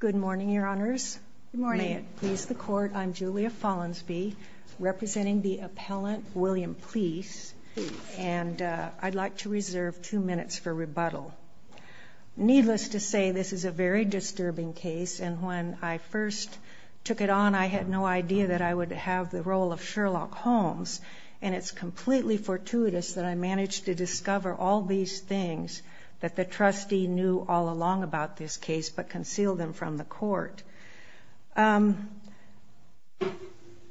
Good morning, Your Honors. May it please the Court, I'm Julia Follansbee, representing the appellant William Plise, and I'd like to reserve two minutes for rebuttal. Needless to say, this is a very disturbing case, and when I first took it on, I had no idea that I would have the role of Sherlock Holmes, and it's completely fortuitous that I managed to discover all these things that the trustee knew all along about this case, but conceal them from the Court.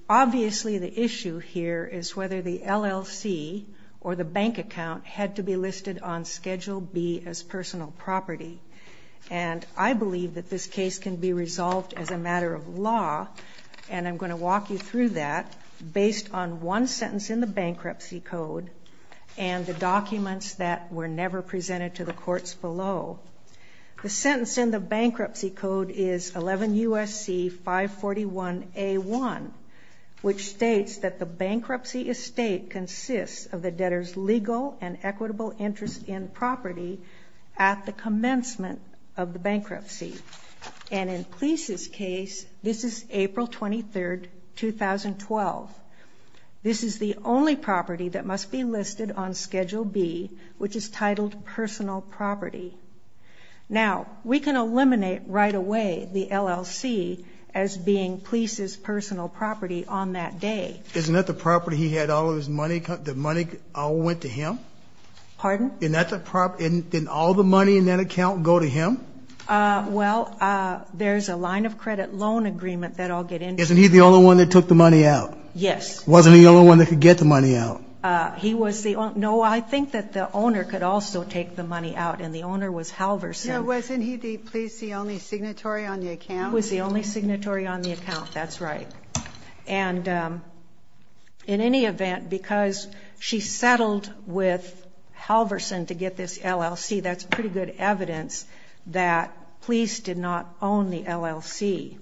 Obviously, the issue here is whether the LLC or the bank account had to be listed on Schedule B as personal property, and I believe that this case can be resolved as a matter of law, and I'm gonna walk you through that based on one sentence in the bankruptcy code and the documents that were never presented to the courts below. The sentence in the bankruptcy code is 11 U.S.C. 541 A. 1, which states that the bankruptcy estate consists of the debtor's legal and equitable interest in property at the commencement of the bankruptcy, and in Plise's case, this is April 23rd, 2012. This is the only property that must be Now, we can eliminate right away the LLC as being Plise's personal property on that day. Isn't that the property he had all of his money, the money all went to him? Pardon? Didn't all the money in that account go to him? Well, there's a line of credit loan agreement that I'll get into. Isn't he the only one that took the money out? Yes. Wasn't he the only one that could get the money out? No, I think that the owner could also take the money out, and the owner was Halverson. Wasn't he the Plise's only signatory on the account? He was the only signatory on the account, that's right. And in any event, because she settled with Halverson to get this LLC, that's pretty good evidence that Plise did not own the LLC.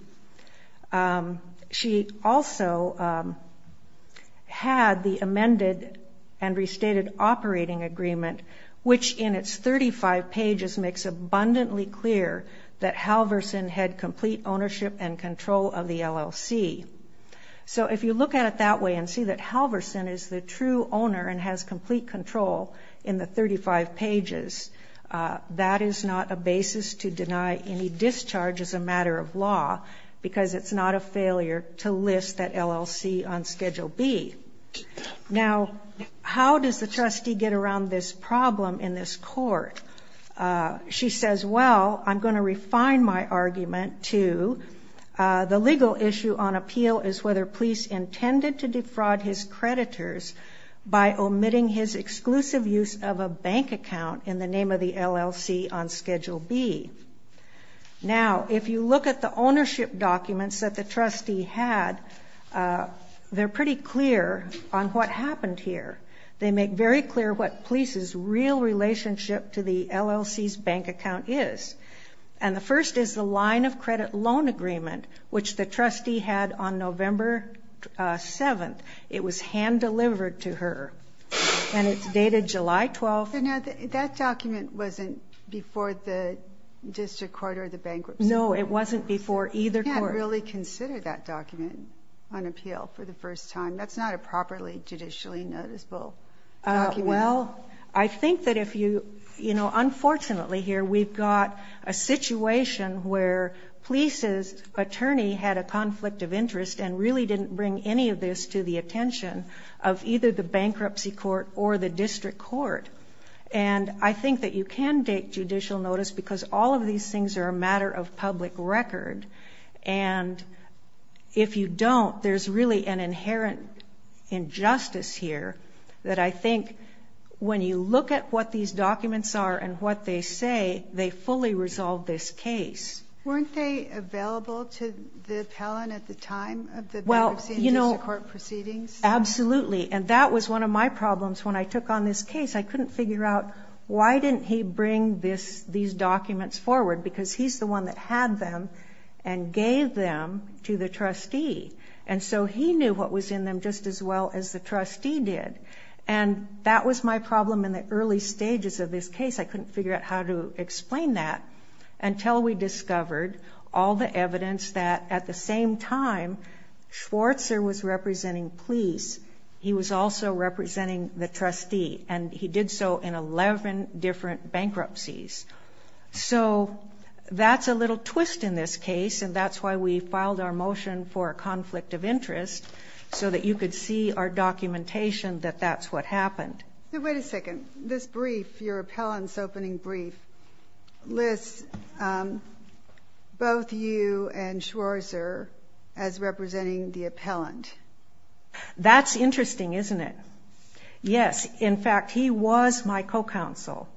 She also had the amended and restated operating agreement, which in its 35 pages makes abundantly clear that Halverson had complete ownership and control of the LLC. So if you look at it that way and see that Halverson is the true owner and has complete control in the 35 pages, that is not a basis to deny any discharge as a matter of law because it's not a failure to list that LLC on Schedule B. Now, how does the trustee get around this problem in this court? She says, well, I'm going to refine my argument to the legal issue on appeal is whether Plise intended to defraud his creditors by omitting his exclusive use of a bank account in the name of the LLC on Schedule B. Now, if you look at the ownership documents that the trustee had, they're pretty clear on what happened here. They make very clear what Plise's real relationship to the LLC's bank account is. And the first is the line of credit loan agreement, which the trustee had on November 7th. It was hand-delivered to her, and it's dated July 12th. Now, that document wasn't before the district court or the bankruptcy court. No, it wasn't before either court. You can't really consider that document on appeal for the first time. That's not a properly judicially noticeable document. Well, I think that if you, you know, unfortunately here we've got a situation where Plise's attorney had a conflict of interest and really didn't bring any of this to the attention of either the bankruptcy court or the district court. And I think that you can take judicial notice because all of these things are a matter of public record. And if you don't, there's really an inherent injustice here that I think when you look at what these documents are and what they say, they fully resolve this case. Weren't they available to the appellant at the time of the bankruptcy and district court proceedings? Absolutely. And that was one of my problems when I took on this case. I couldn't figure out why didn't he bring these documents forward because he's the one that had them and gave them to the trustee. And so he knew what was in them just as well as the trustee did. And that was my problem in the early stages of this case. I couldn't figure out how to explain that until we discovered all the evidence that at the same time, Schwarzer was representing Plise, he was also representing the trustee, and he did so in 11 different bankruptcies. So that's a little twist in this case, and that's why we filed our motion for a conflict of interest so that you could see our documentation that that's what happened. Wait a second. This brief, your appellant's opening brief, lists both you and Schwarzer as representing the appellant. That's interesting, isn't it? Yes. In fact, he was my co-counsel,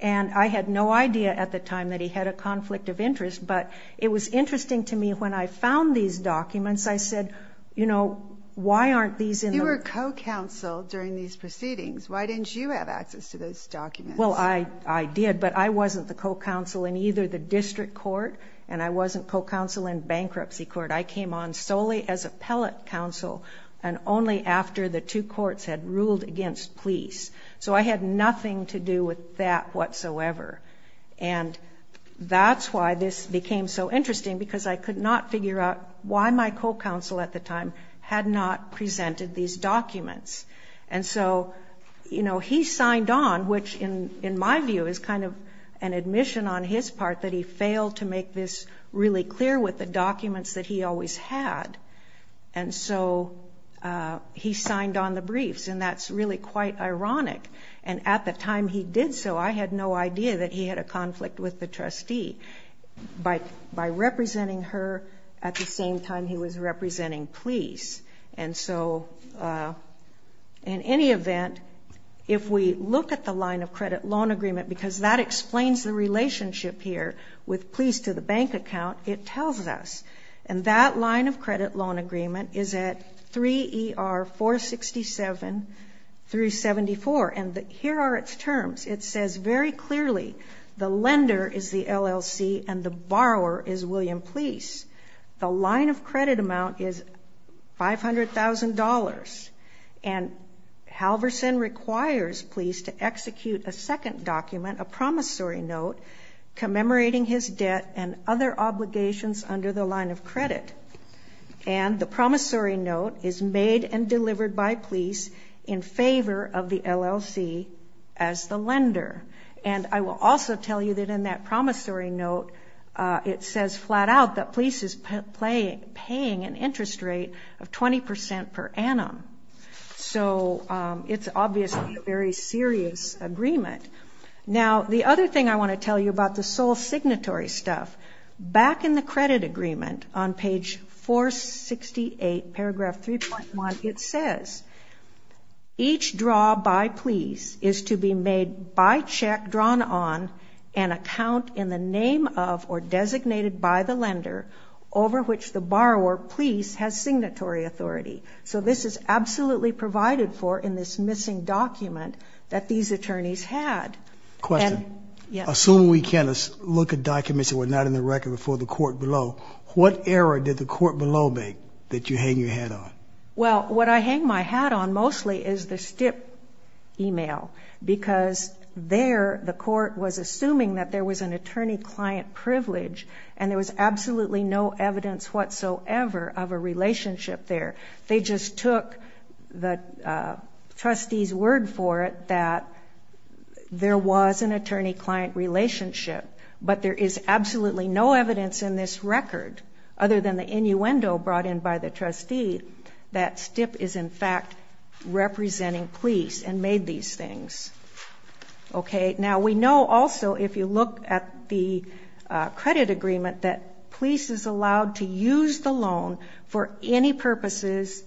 and I had no idea at the time that he had a conflict of interest, but it was interesting to me when I found these documents. I said, you know, why aren't these in the... You were co-counsel during these proceedings. Why didn't you have access to those documents? Well, I did, but I wasn't the co-counsel in either the district court and I wasn't co-counsel in bankruptcy court. I came on solely as appellant counsel and only after the two courts had ruled against Plise. So I had nothing to do with that whatsoever, and that's why this became so interesting because I could not figure out why my co-counsel at the time had not presented these documents. And so, you know, he signed on, which in my view is kind of an admission on his part that he failed to make this really clear with the documents that he always had, and so he signed on the briefs, and that's really quite ironic. And at the time he did so, I had no idea that he had a conflict with the trustee. By representing her at the same time he was representing Plise. And so in any event, if we look at the line of credit loan agreement, because that explains the relationship here with Plise to the bank account, it tells us. And that line of credit loan agreement is at 3ER467-74, and here are its terms. It says very clearly the lender is the LLC and the borrower is William Plise. The line of credit amount is $500,000, and Halverson requires Plise to execute a second document, a promissory note, commemorating his debt and other obligations under the line of credit. And the promissory note is made and delivered by Plise in favor of the LLC as the lender. And I will also tell you that in that promissory note it says flat out that Plise is paying an interest rate of 20% per annum. So it's obviously a very serious agreement. Now the other thing I want to tell you about the sole signatory stuff, back in the credit agreement on page 468, paragraph 3.1, it says each draw by Plise is to be made by check drawn on an account in the name of or designated by the lender over which the borrower, Plise, has signatory authority. So this is absolutely provided for in this missing document that these attorneys had. Question. Assuming we can't look at documents that were not in the record before the court below, what error did the court below make that you hang your hat on? Well, what I hang my hat on mostly is the STIP email, because there the court was assuming that there was an attorney-client privilege, and there was absolutely no evidence whatsoever of a relationship there. They just took the trustee's word for it that there was an attorney-client relationship, but there is absolutely no evidence in this record, other than the innuendo brought in by the trustee, that STIP is in fact representing Plise and made these things. Now we know also, if you look at the credit agreement, that Plise is allowed to use the loan for any purposes,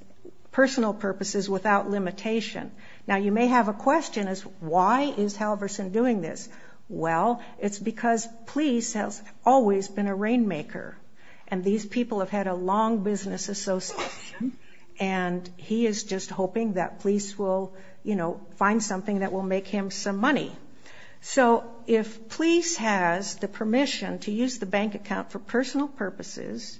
personal purposes, without limitation. Now you may have a question as to why is Halverson doing this. Well, it's because Plise has always been a rainmaker, and these people have had a long business association, and he is just hoping that Plise will, you know, find something that will make him some money. So if Plise has the permission to use the bank account for personal purposes,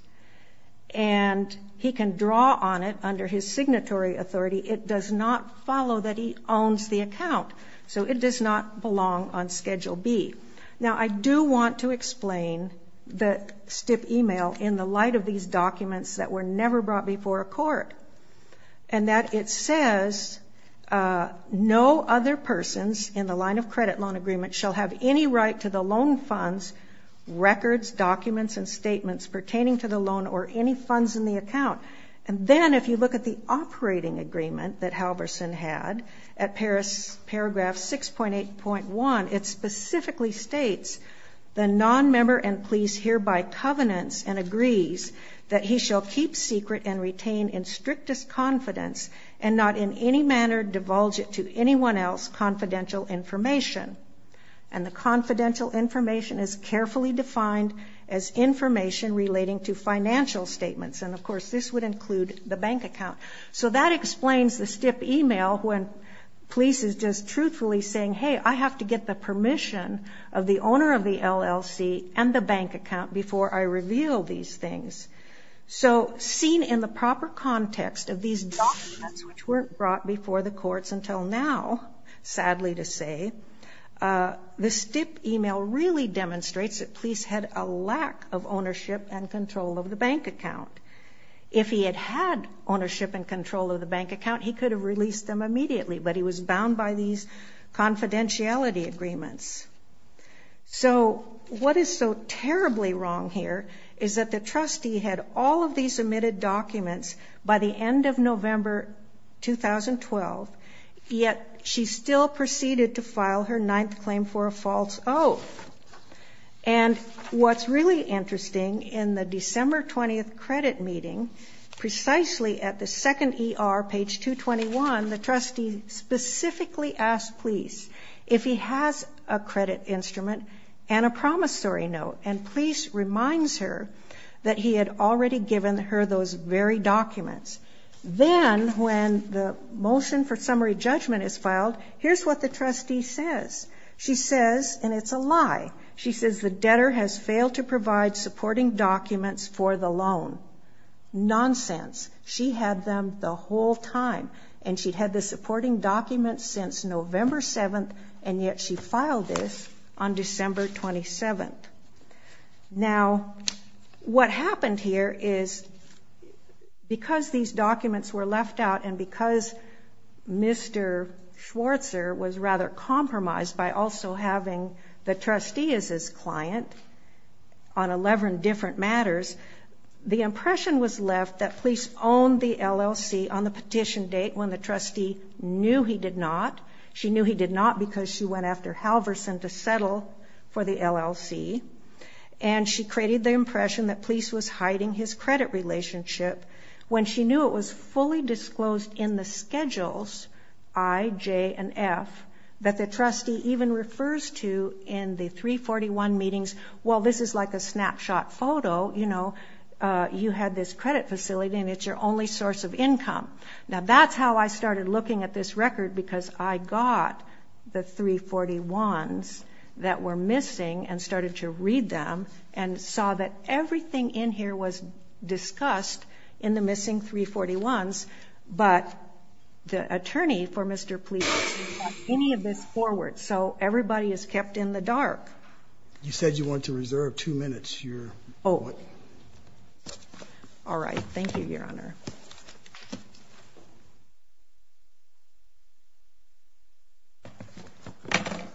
and he can draw on it under his signatory authority, it does not follow that he owns the account. So it does not belong on Schedule B. Now I do want to explain the STIP email in the light of these documents that were never brought before a court, and that it says, no other persons in the line of credit loan agreement shall have any right to the loan funds, records, documents, and statements pertaining to the loan or any funds in the account. And then if you look at the operating agreement that Halverson had at paragraph 6.8.1, it specifically states, the nonmember and Plise hereby covenants and agrees that he shall keep secret and retain in strictest confidence and not in any manner divulge it to anyone else confidential information. And the confidential information is carefully defined as information relating to financial statements. And, of course, this would include the bank account. So that explains the STIP email when Plise is just truthfully saying, hey, I have to get the permission of the owner of the LLC and the bank account before I reveal these things. So seen in the proper context of these documents, which weren't brought before the courts until now, sadly to say, the STIP email really demonstrates that Plise had a lack of ownership and control of the bank account. If he had had ownership and control of the bank account, he could have released them immediately. But he was bound by these confidentiality agreements. So what is so terribly wrong here is that the trustee had all of these omitted documents by the end of November 2012, yet she still proceeded to file her ninth claim for a false oath. And what's really interesting, in the December 20th credit meeting, precisely at the second ER, page 221, the trustee specifically asked Plise if he has a credit instrument and a promissory note. And Plise reminds her that he had already given her those very documents. Then, when the motion for summary judgment is filed, here's what the trustee says. She says, and it's a lie, she says the debtor has failed to provide supporting documents for the loan. Nonsense. She had them the whole time. And she had the supporting documents since November 7th, and yet she filed this on December 27th. Now, what happened here is because these documents were left out and because Mr. Schwartzer was rather compromised by also having the trustee as his client on 11 different matters, the impression was left that Plise owned the LLC on the petition date when the trustee knew he did not. She knew he did not because she went after Halverson to settle for the LLC. And she created the impression that Plise was hiding his credit relationship when she knew it was fully disclosed in the schedules, I, J, and F, that the trustee even refers to in the 341 meetings. Well, this is like a snapshot photo, you know, you had this credit facility and it's your only source of income. Now, that's how I started looking at this record because I got the 341s that were missing and started to read them and saw that everything in here was discussed in the missing 341s, but the attorney for Mr. Plise didn't have any of this forward. So everybody is kept in the dark. You said you wanted to reserve two minutes. Oh, all right. Thank you, Your Honor. Thank you, Your Honor.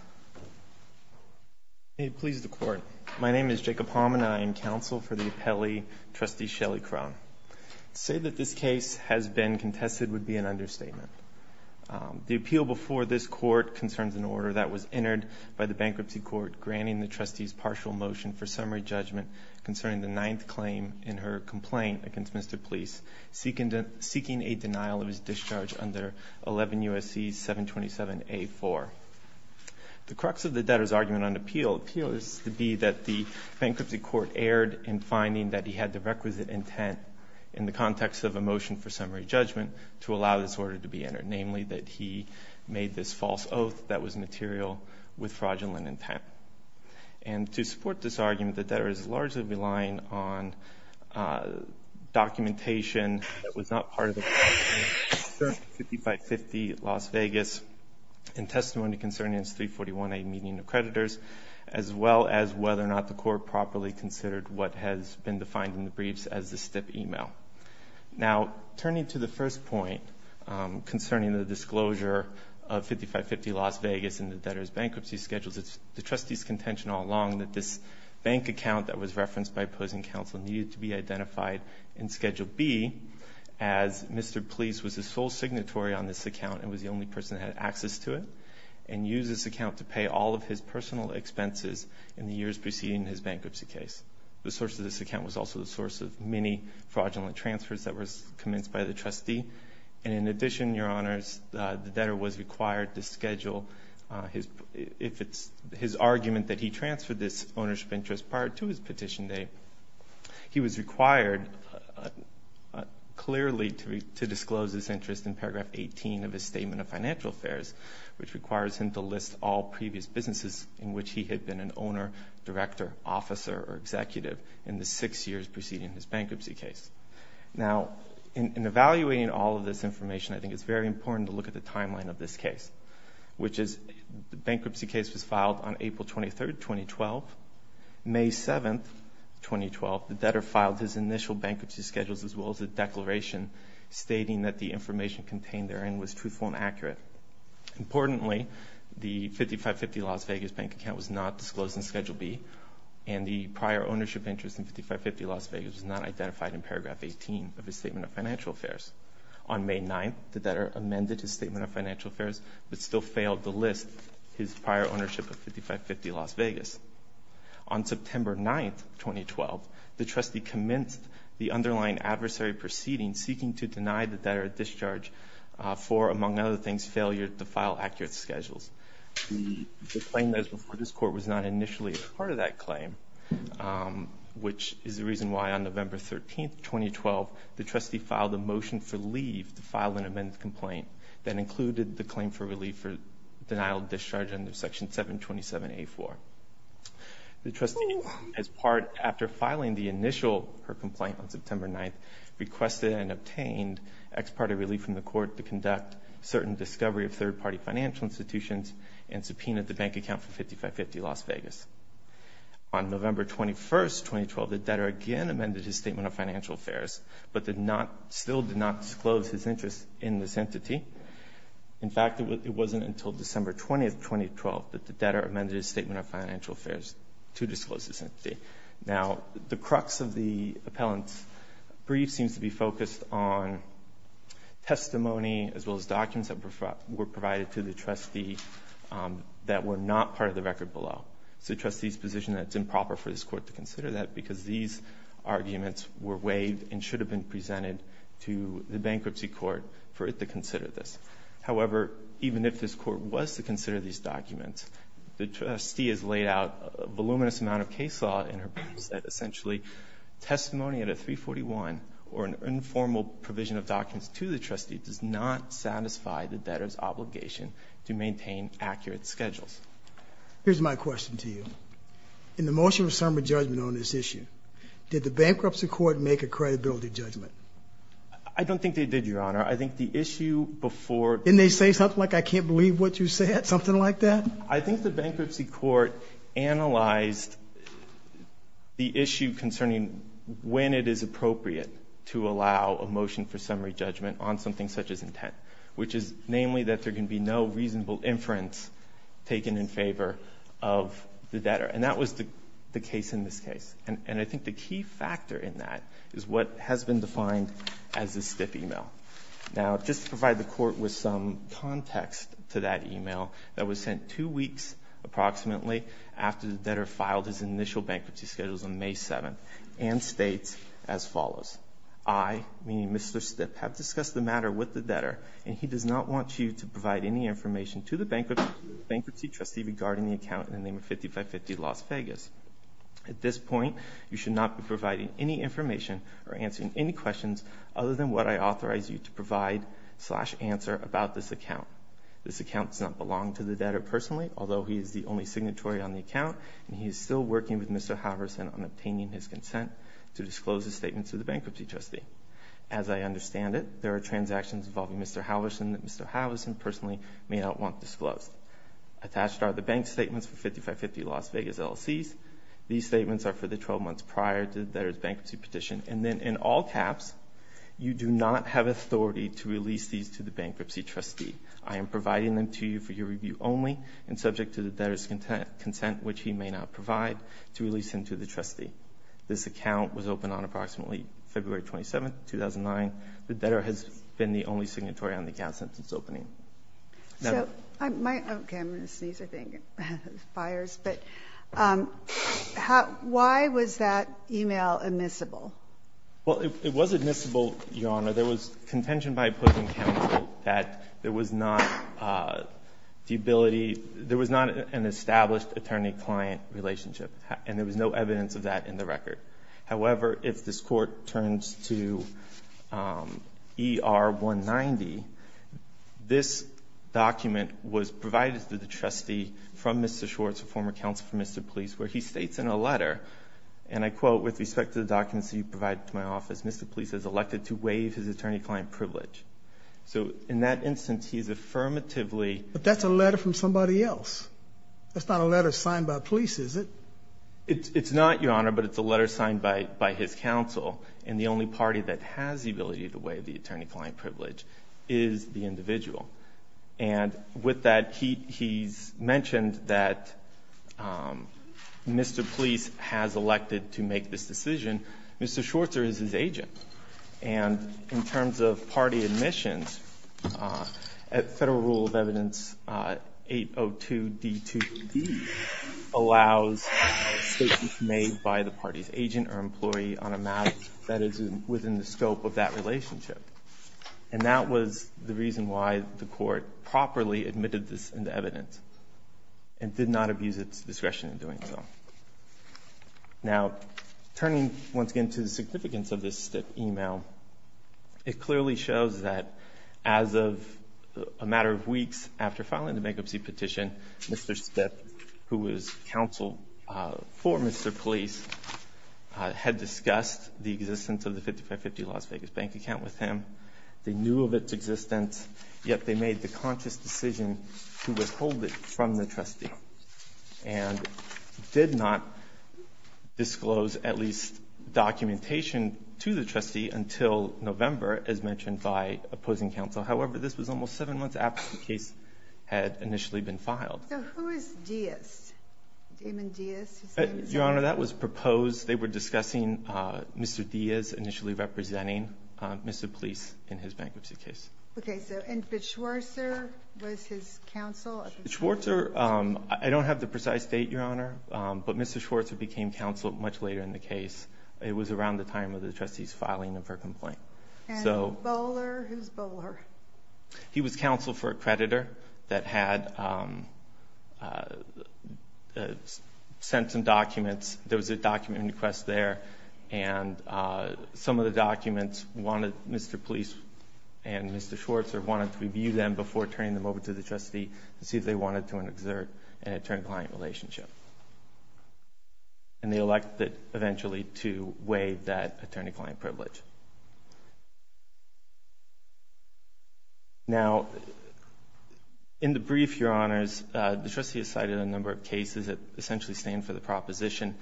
May it please the Court. My name is Jacob Homann, and I am counsel for the appellee, Trustee Shelley Crone. To say that this case has been contested would be an understatement. The appeal before this court concerns an order that was entered by the bankruptcy court granting the trustee's partial motion for summary judgment concerning the ninth claim in her complaint against Mr. Plise, seeking a denial of his discharge under 11 U.S.C. 727A-4. The crux of the debtor's argument on appeal is to be that the bankruptcy court erred in finding that he had the requisite intent in the context of a motion for summary judgment to allow this order to be entered, namely that he made this false oath that was material with fraudulent intent. And to support this argument, the debtor is largely relying on documentation that was not part of the 5550 Las Vegas in testimony concerning his 341A meeting of creditors, as well as whether or not the court properly considered what has been defined in the briefs as a stiff email. Now, turning to the first point concerning the disclosure of 5550 Las Vegas in the debtor's bankruptcy schedule, the trustee's contention all along that this bank account that was referenced by opposing counsel needed to be identified in Schedule B as Mr. Plise was the sole signatory on this account and was the only person that had access to it, and used this account to pay all of his personal expenses in the years preceding his bankruptcy case. The source of this account was also the source of many fraudulent transfers that were commenced by the trustee. And in addition, Your Honors, the debtor was required to schedule his argument that he transferred this ownership interest prior to his petition date. He was required clearly to disclose this interest in paragraph 18 of his statement of financial affairs, which requires him to list all previous businesses in which he had been an owner, director, officer, or executive in the six years preceding his bankruptcy case. Now, in evaluating all of this information, I think it's very important to look at the timeline of this case, which is the bankruptcy case was filed on April 23, 2012. May 7, 2012, the debtor filed his initial bankruptcy schedules as well as a declaration stating that the information contained therein was truthful and accurate. Importantly, the 5550 Las Vegas bank account was not disclosed in Schedule B, and the prior ownership interest in 5550 Las Vegas was not identified in paragraph 18 of his statement of financial affairs. On May 9, the debtor amended his statement of financial affairs but still failed to list his prior ownership of 5550 Las Vegas. On September 9, 2012, the trustee commenced the underlying adversary proceeding seeking to deny the debtor a discharge for, among other things, failure to file accurate schedules. The claim that is before this Court was not initially part of that claim, which is the reason why on November 13, 2012, the trustee filed a motion for leave to file an amended complaint that included the claim for relief for denial of discharge under Section 727A4. The trustee, as part, after filing the initial complaint on September 9, requested and obtained ex parte relief from the Court to conduct certain discovery of third-party financial institutions and subpoenaed the bank account for 5550 Las Vegas. On November 21, 2012, the debtor again amended his statement of financial affairs but still did not disclose his interest in this entity. In fact, it wasn't until December 20, 2012, that the debtor amended his statement of financial affairs to disclose this entity. Now, the crux of the appellant's brief seems to be focused on testimony as well as documents that were provided to the trustee that were not part of the record below. It's the trustee's position that it's improper for this Court to consider that because these arguments were waived and should have been presented to the bankruptcy court for it to consider this. However, even if this Court was to consider these documents, the trustee has laid out a voluminous amount of case law in her briefs that essentially testimony at a 341 or an informal provision of documents to the trustee does not satisfy the debtor's obligation to maintain accurate schedules. Here's my question to you. In the motion of summary judgment on this issue, did the bankruptcy court make a credibility judgment? I don't think they did, Your Honor. I think the issue before Didn't they say something like I can't believe what you said, something like that? I think the bankruptcy court analyzed the issue concerning when it is appropriate to allow a motion for summary judgment on something such as intent, which is namely that there can be no reasonable inference taken in favor of the debtor. And that was the case in this case. And I think the key factor in that is what has been defined as a stiff email. Now, just to provide the Court with some context to that email that was sent two weeks approximately after the debtor filed his initial bankruptcy schedules on May 7th and states as follows. I, meaning Mr. Stipp, have discussed the matter with the debtor and he does not want you to provide any information to the bankruptcy trustee regarding the account in the name of 5550 Las Vegas. At this point, you should not be providing any information or answering any questions other than what I authorize you to provide slash answer about this account. This account does not belong to the debtor personally, although he is the only signatory on the account and he is still working with Mr. Halverson on obtaining his consent to disclose his statement to the bankruptcy trustee. As I understand it, there are transactions involving Mr. Halverson that Mr. Halverson personally may not want disclosed. Attached are the bank statements for 5550 Las Vegas LLCs. These statements are for the 12 months prior to the debtor's bankruptcy petition. And then in all caps, you do not have authority to release these to the bankruptcy trustee. I am providing them to you for your review only and subject to the debtor's consent, which he may not provide, to release them to the trustee. This account was opened on approximately February 27th, 2009. The debtor has been the only signatory on the account since its opening. Kagan. Okay. I'm going to sneeze, I think. Fires. But why was that e-mail admissible? Well, it was admissible, Your Honor. There was contention by opposing counsel that there was not the ability, there was not an established attorney-client relationship, and there was no evidence of that in the record. However, if this Court turns to ER 190, this document was provided to the trustee from Mr. Schwartz, a former counsel for Mr. Police, where he states in a letter, and I quote, With respect to the documents that you provided to my office, Mr. Police is elected to waive his attorney-client privilege. So in that instance, he's affirmatively But that's a letter from somebody else. That's not a letter signed by police, is it? It's not, Your Honor, but it's a letter signed by his counsel. And the only party that has the ability to waive the attorney-client privilege is the individual. And with that, he's mentioned that Mr. Police has elected to make this decision. Mr. Schwartz is his agent. And in terms of party admissions, Federal Rule of Evidence 802d2d allows statements made by the party's agent or employee on a matter that is within the scope of that relationship. And that was the reason why the Court properly admitted this in the evidence and did not abuse its discretion in doing so. Now, turning once again to the significance of this Stipp email, it clearly shows that as of a matter of weeks after filing the bankruptcy petition, Mr. Stipp, who was counsel for Mr. Police, had discussed the existence of the 5550 Las Vegas bank account with him. They knew of its existence, yet they made the conscious decision to withhold it from the trustee. And did not disclose at least documentation to the trustee until November, as mentioned by opposing counsel. However, this was almost seven months after the case had initially been filed. So who is Diaz? Damon Diaz? Your Honor, that was proposed. They were discussing Mr. Diaz initially representing Mr. Police in his bankruptcy case. Okay. So and Bichwarzer was his counsel? Bichwarzer, I don't have the precise date, Your Honor. But Mr. Bichwarzer became counsel much later in the case. It was around the time of the trustee's filing of her complaint. And Bowler? Who's Bowler? He was counsel for a creditor that had sent some documents. There was a document request there. And some of the documents wanted Mr. Police and Mr. Bichwarzer wanted to review them before turning them over to the trustee to see if they wanted to exert an attorney-client relationship. And they elected eventually to waive that attorney-client privilege. Now, in the brief, Your Honors, the trustee has cited a number of cases that essentially stand for the proposition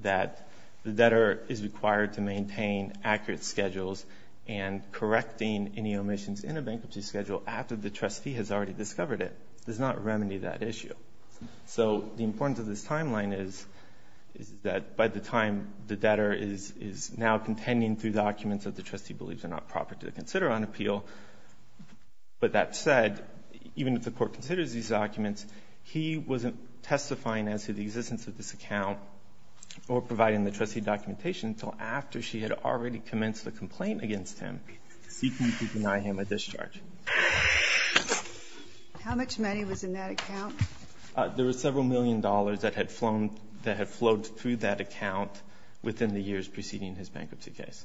that the debtor is required to maintain accurate schedules and correcting any omissions in a bankruptcy schedule after the trustee has already discovered it. It does not remedy that issue. So the importance of this timeline is that by the time the debtor is now contending through documents that the trustee believes are not proper to consider on appeal, but that said, even if the Court considers these documents, he wasn't testifying as to the existence of this account or providing the trustee documentation until after she had already commenced the complaint against him, seeking to deny him a discharge. How much money was in that account? There was several million dollars that had flown, that had flowed through that account within the years preceding his bankruptcy case.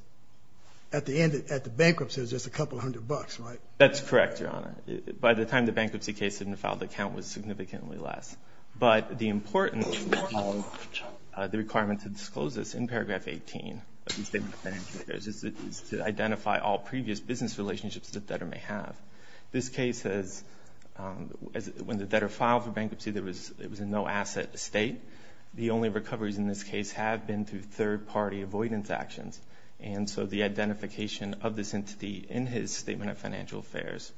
At the end, at the bankruptcy, it was just a couple hundred bucks, right? That's correct, Your Honor. By the time the bankruptcy case had been filed, the count was significantly less. But the importance of the requirement to disclose this in paragraph 18 of the Statement of Financial Affairs is to identify all previous business relationships the debtor may have. This case says when the debtor filed for bankruptcy, it was a no-asset estate. The only recoveries in this case have been through third-party avoidance actions. And so the identification of this entity in his Statement of Financial Affairs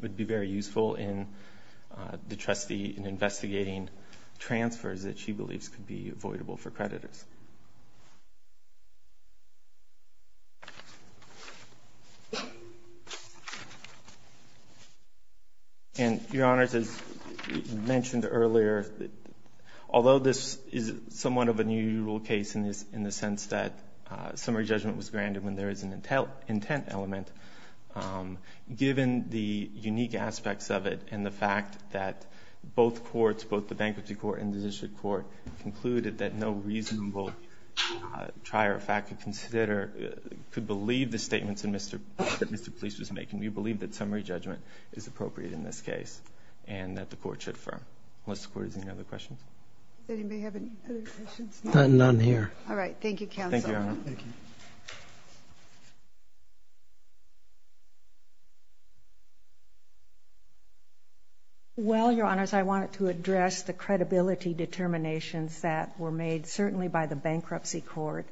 would be very useful in the trustee in investigating transfers that she believes could be avoidable for creditors. And, Your Honors, as mentioned earlier, although this is somewhat of a new rule case in the sense that summary judgment was granted when there is an intent element, given the unique aspects of it and the fact that both courts, both the bankruptcy court and the district court, concluded that no reasonable trier of fact could believe the statements that Mr. Police was making, we believe that summary judgment is appropriate in this case and that the court should affirm. Unless the court has any other questions. Does anybody have any other questions? None here. All right. Thank you, Counsel. Thank you, Your Honor. Thank you. Well, Your Honors, I wanted to address the credibility determinations that were made certainly by the bankruptcy court.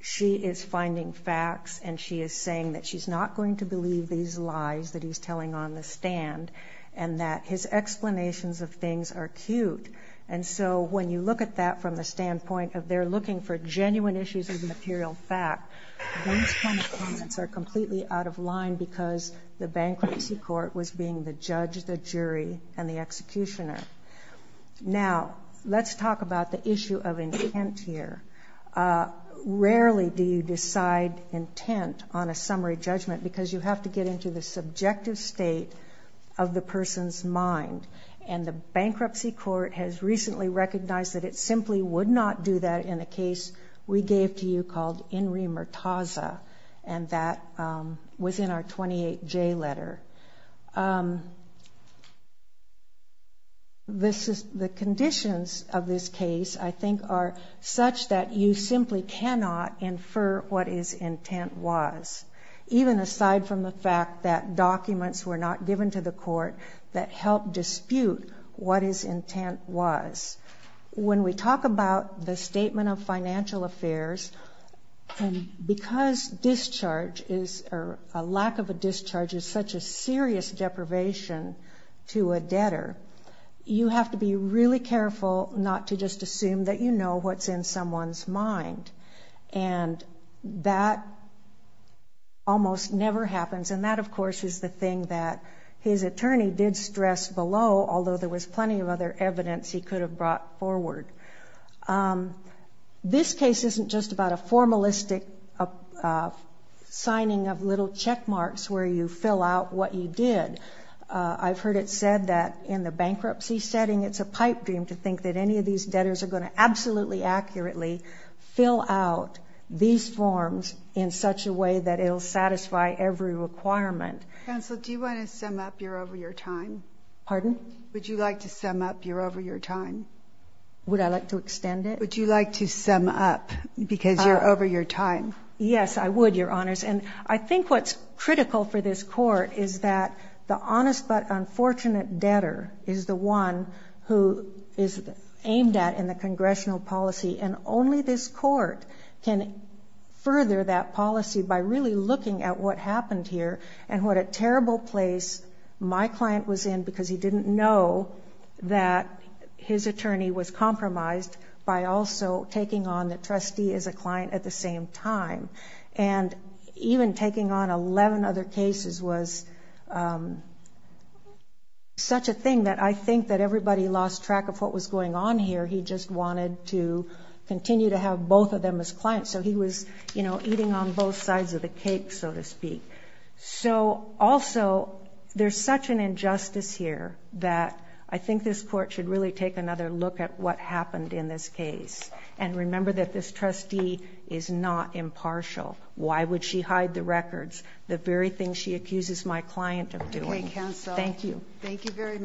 She is finding facts and she is saying that she's not going to believe these lies that he's telling on the stand and that his explanations of things are cute. And so when you look at that from the standpoint of they're looking for genuine issues of material fact, those kind of comments are completely out of line because the bankruptcy court was being the judge, the jury, and the executioner. Now, let's talk about the issue of intent here. Rarely do you decide intent on a summary judgment because you have to get into the subjective state of the person's mind. And the bankruptcy court has recently recognized that it simply would not do that in a case we gave to you called Enri Murtaza, and that was in our 28J letter. The conditions of this case I think are such that you simply cannot infer what his intent was, even aside from the fact that documents were not given to the court that helped dispute what his intent was. When we talk about the statement of financial affairs, because a lack of a discharge is such a serious deprivation to a debtor, you have to be really careful not to just assume that you know what's in someone's mind. And that almost never happens, and that, of course, is the thing that his attorney did stress below, although there was plenty of other evidence he could have brought forward. This case isn't just about a formalistic signing of little check marks where you fill out what you did. I've heard it said that in the bankruptcy setting it's a pipe dream to think that any of these debtors are going to absolutely accurately fill out these forms in such a way that it will satisfy every requirement. Would you like to sum up, because you're over your time? Yes, I would, Your Honors. And I think what's critical for this Court is that the honest but unfortunate debtor is the one who is aimed at in the congressional policy, and only this court can further that policy by really looking at what happened here and what a terrible place my client was in because he didn't know that his attorney was compromised by also taking on the trustee as a client at the same time. Such a thing that I think that everybody lost track of what was going on here. He just wanted to continue to have both of them as clients, so he was eating on both sides of the cake, so to speak. So, also, there's such an injustice here that I think this Court should really take another look at what happened in this case. And remember that this trustee is not impartial. Why would she hide the records? The very thing she accuses my client of doing. Thank you. Thank you very much.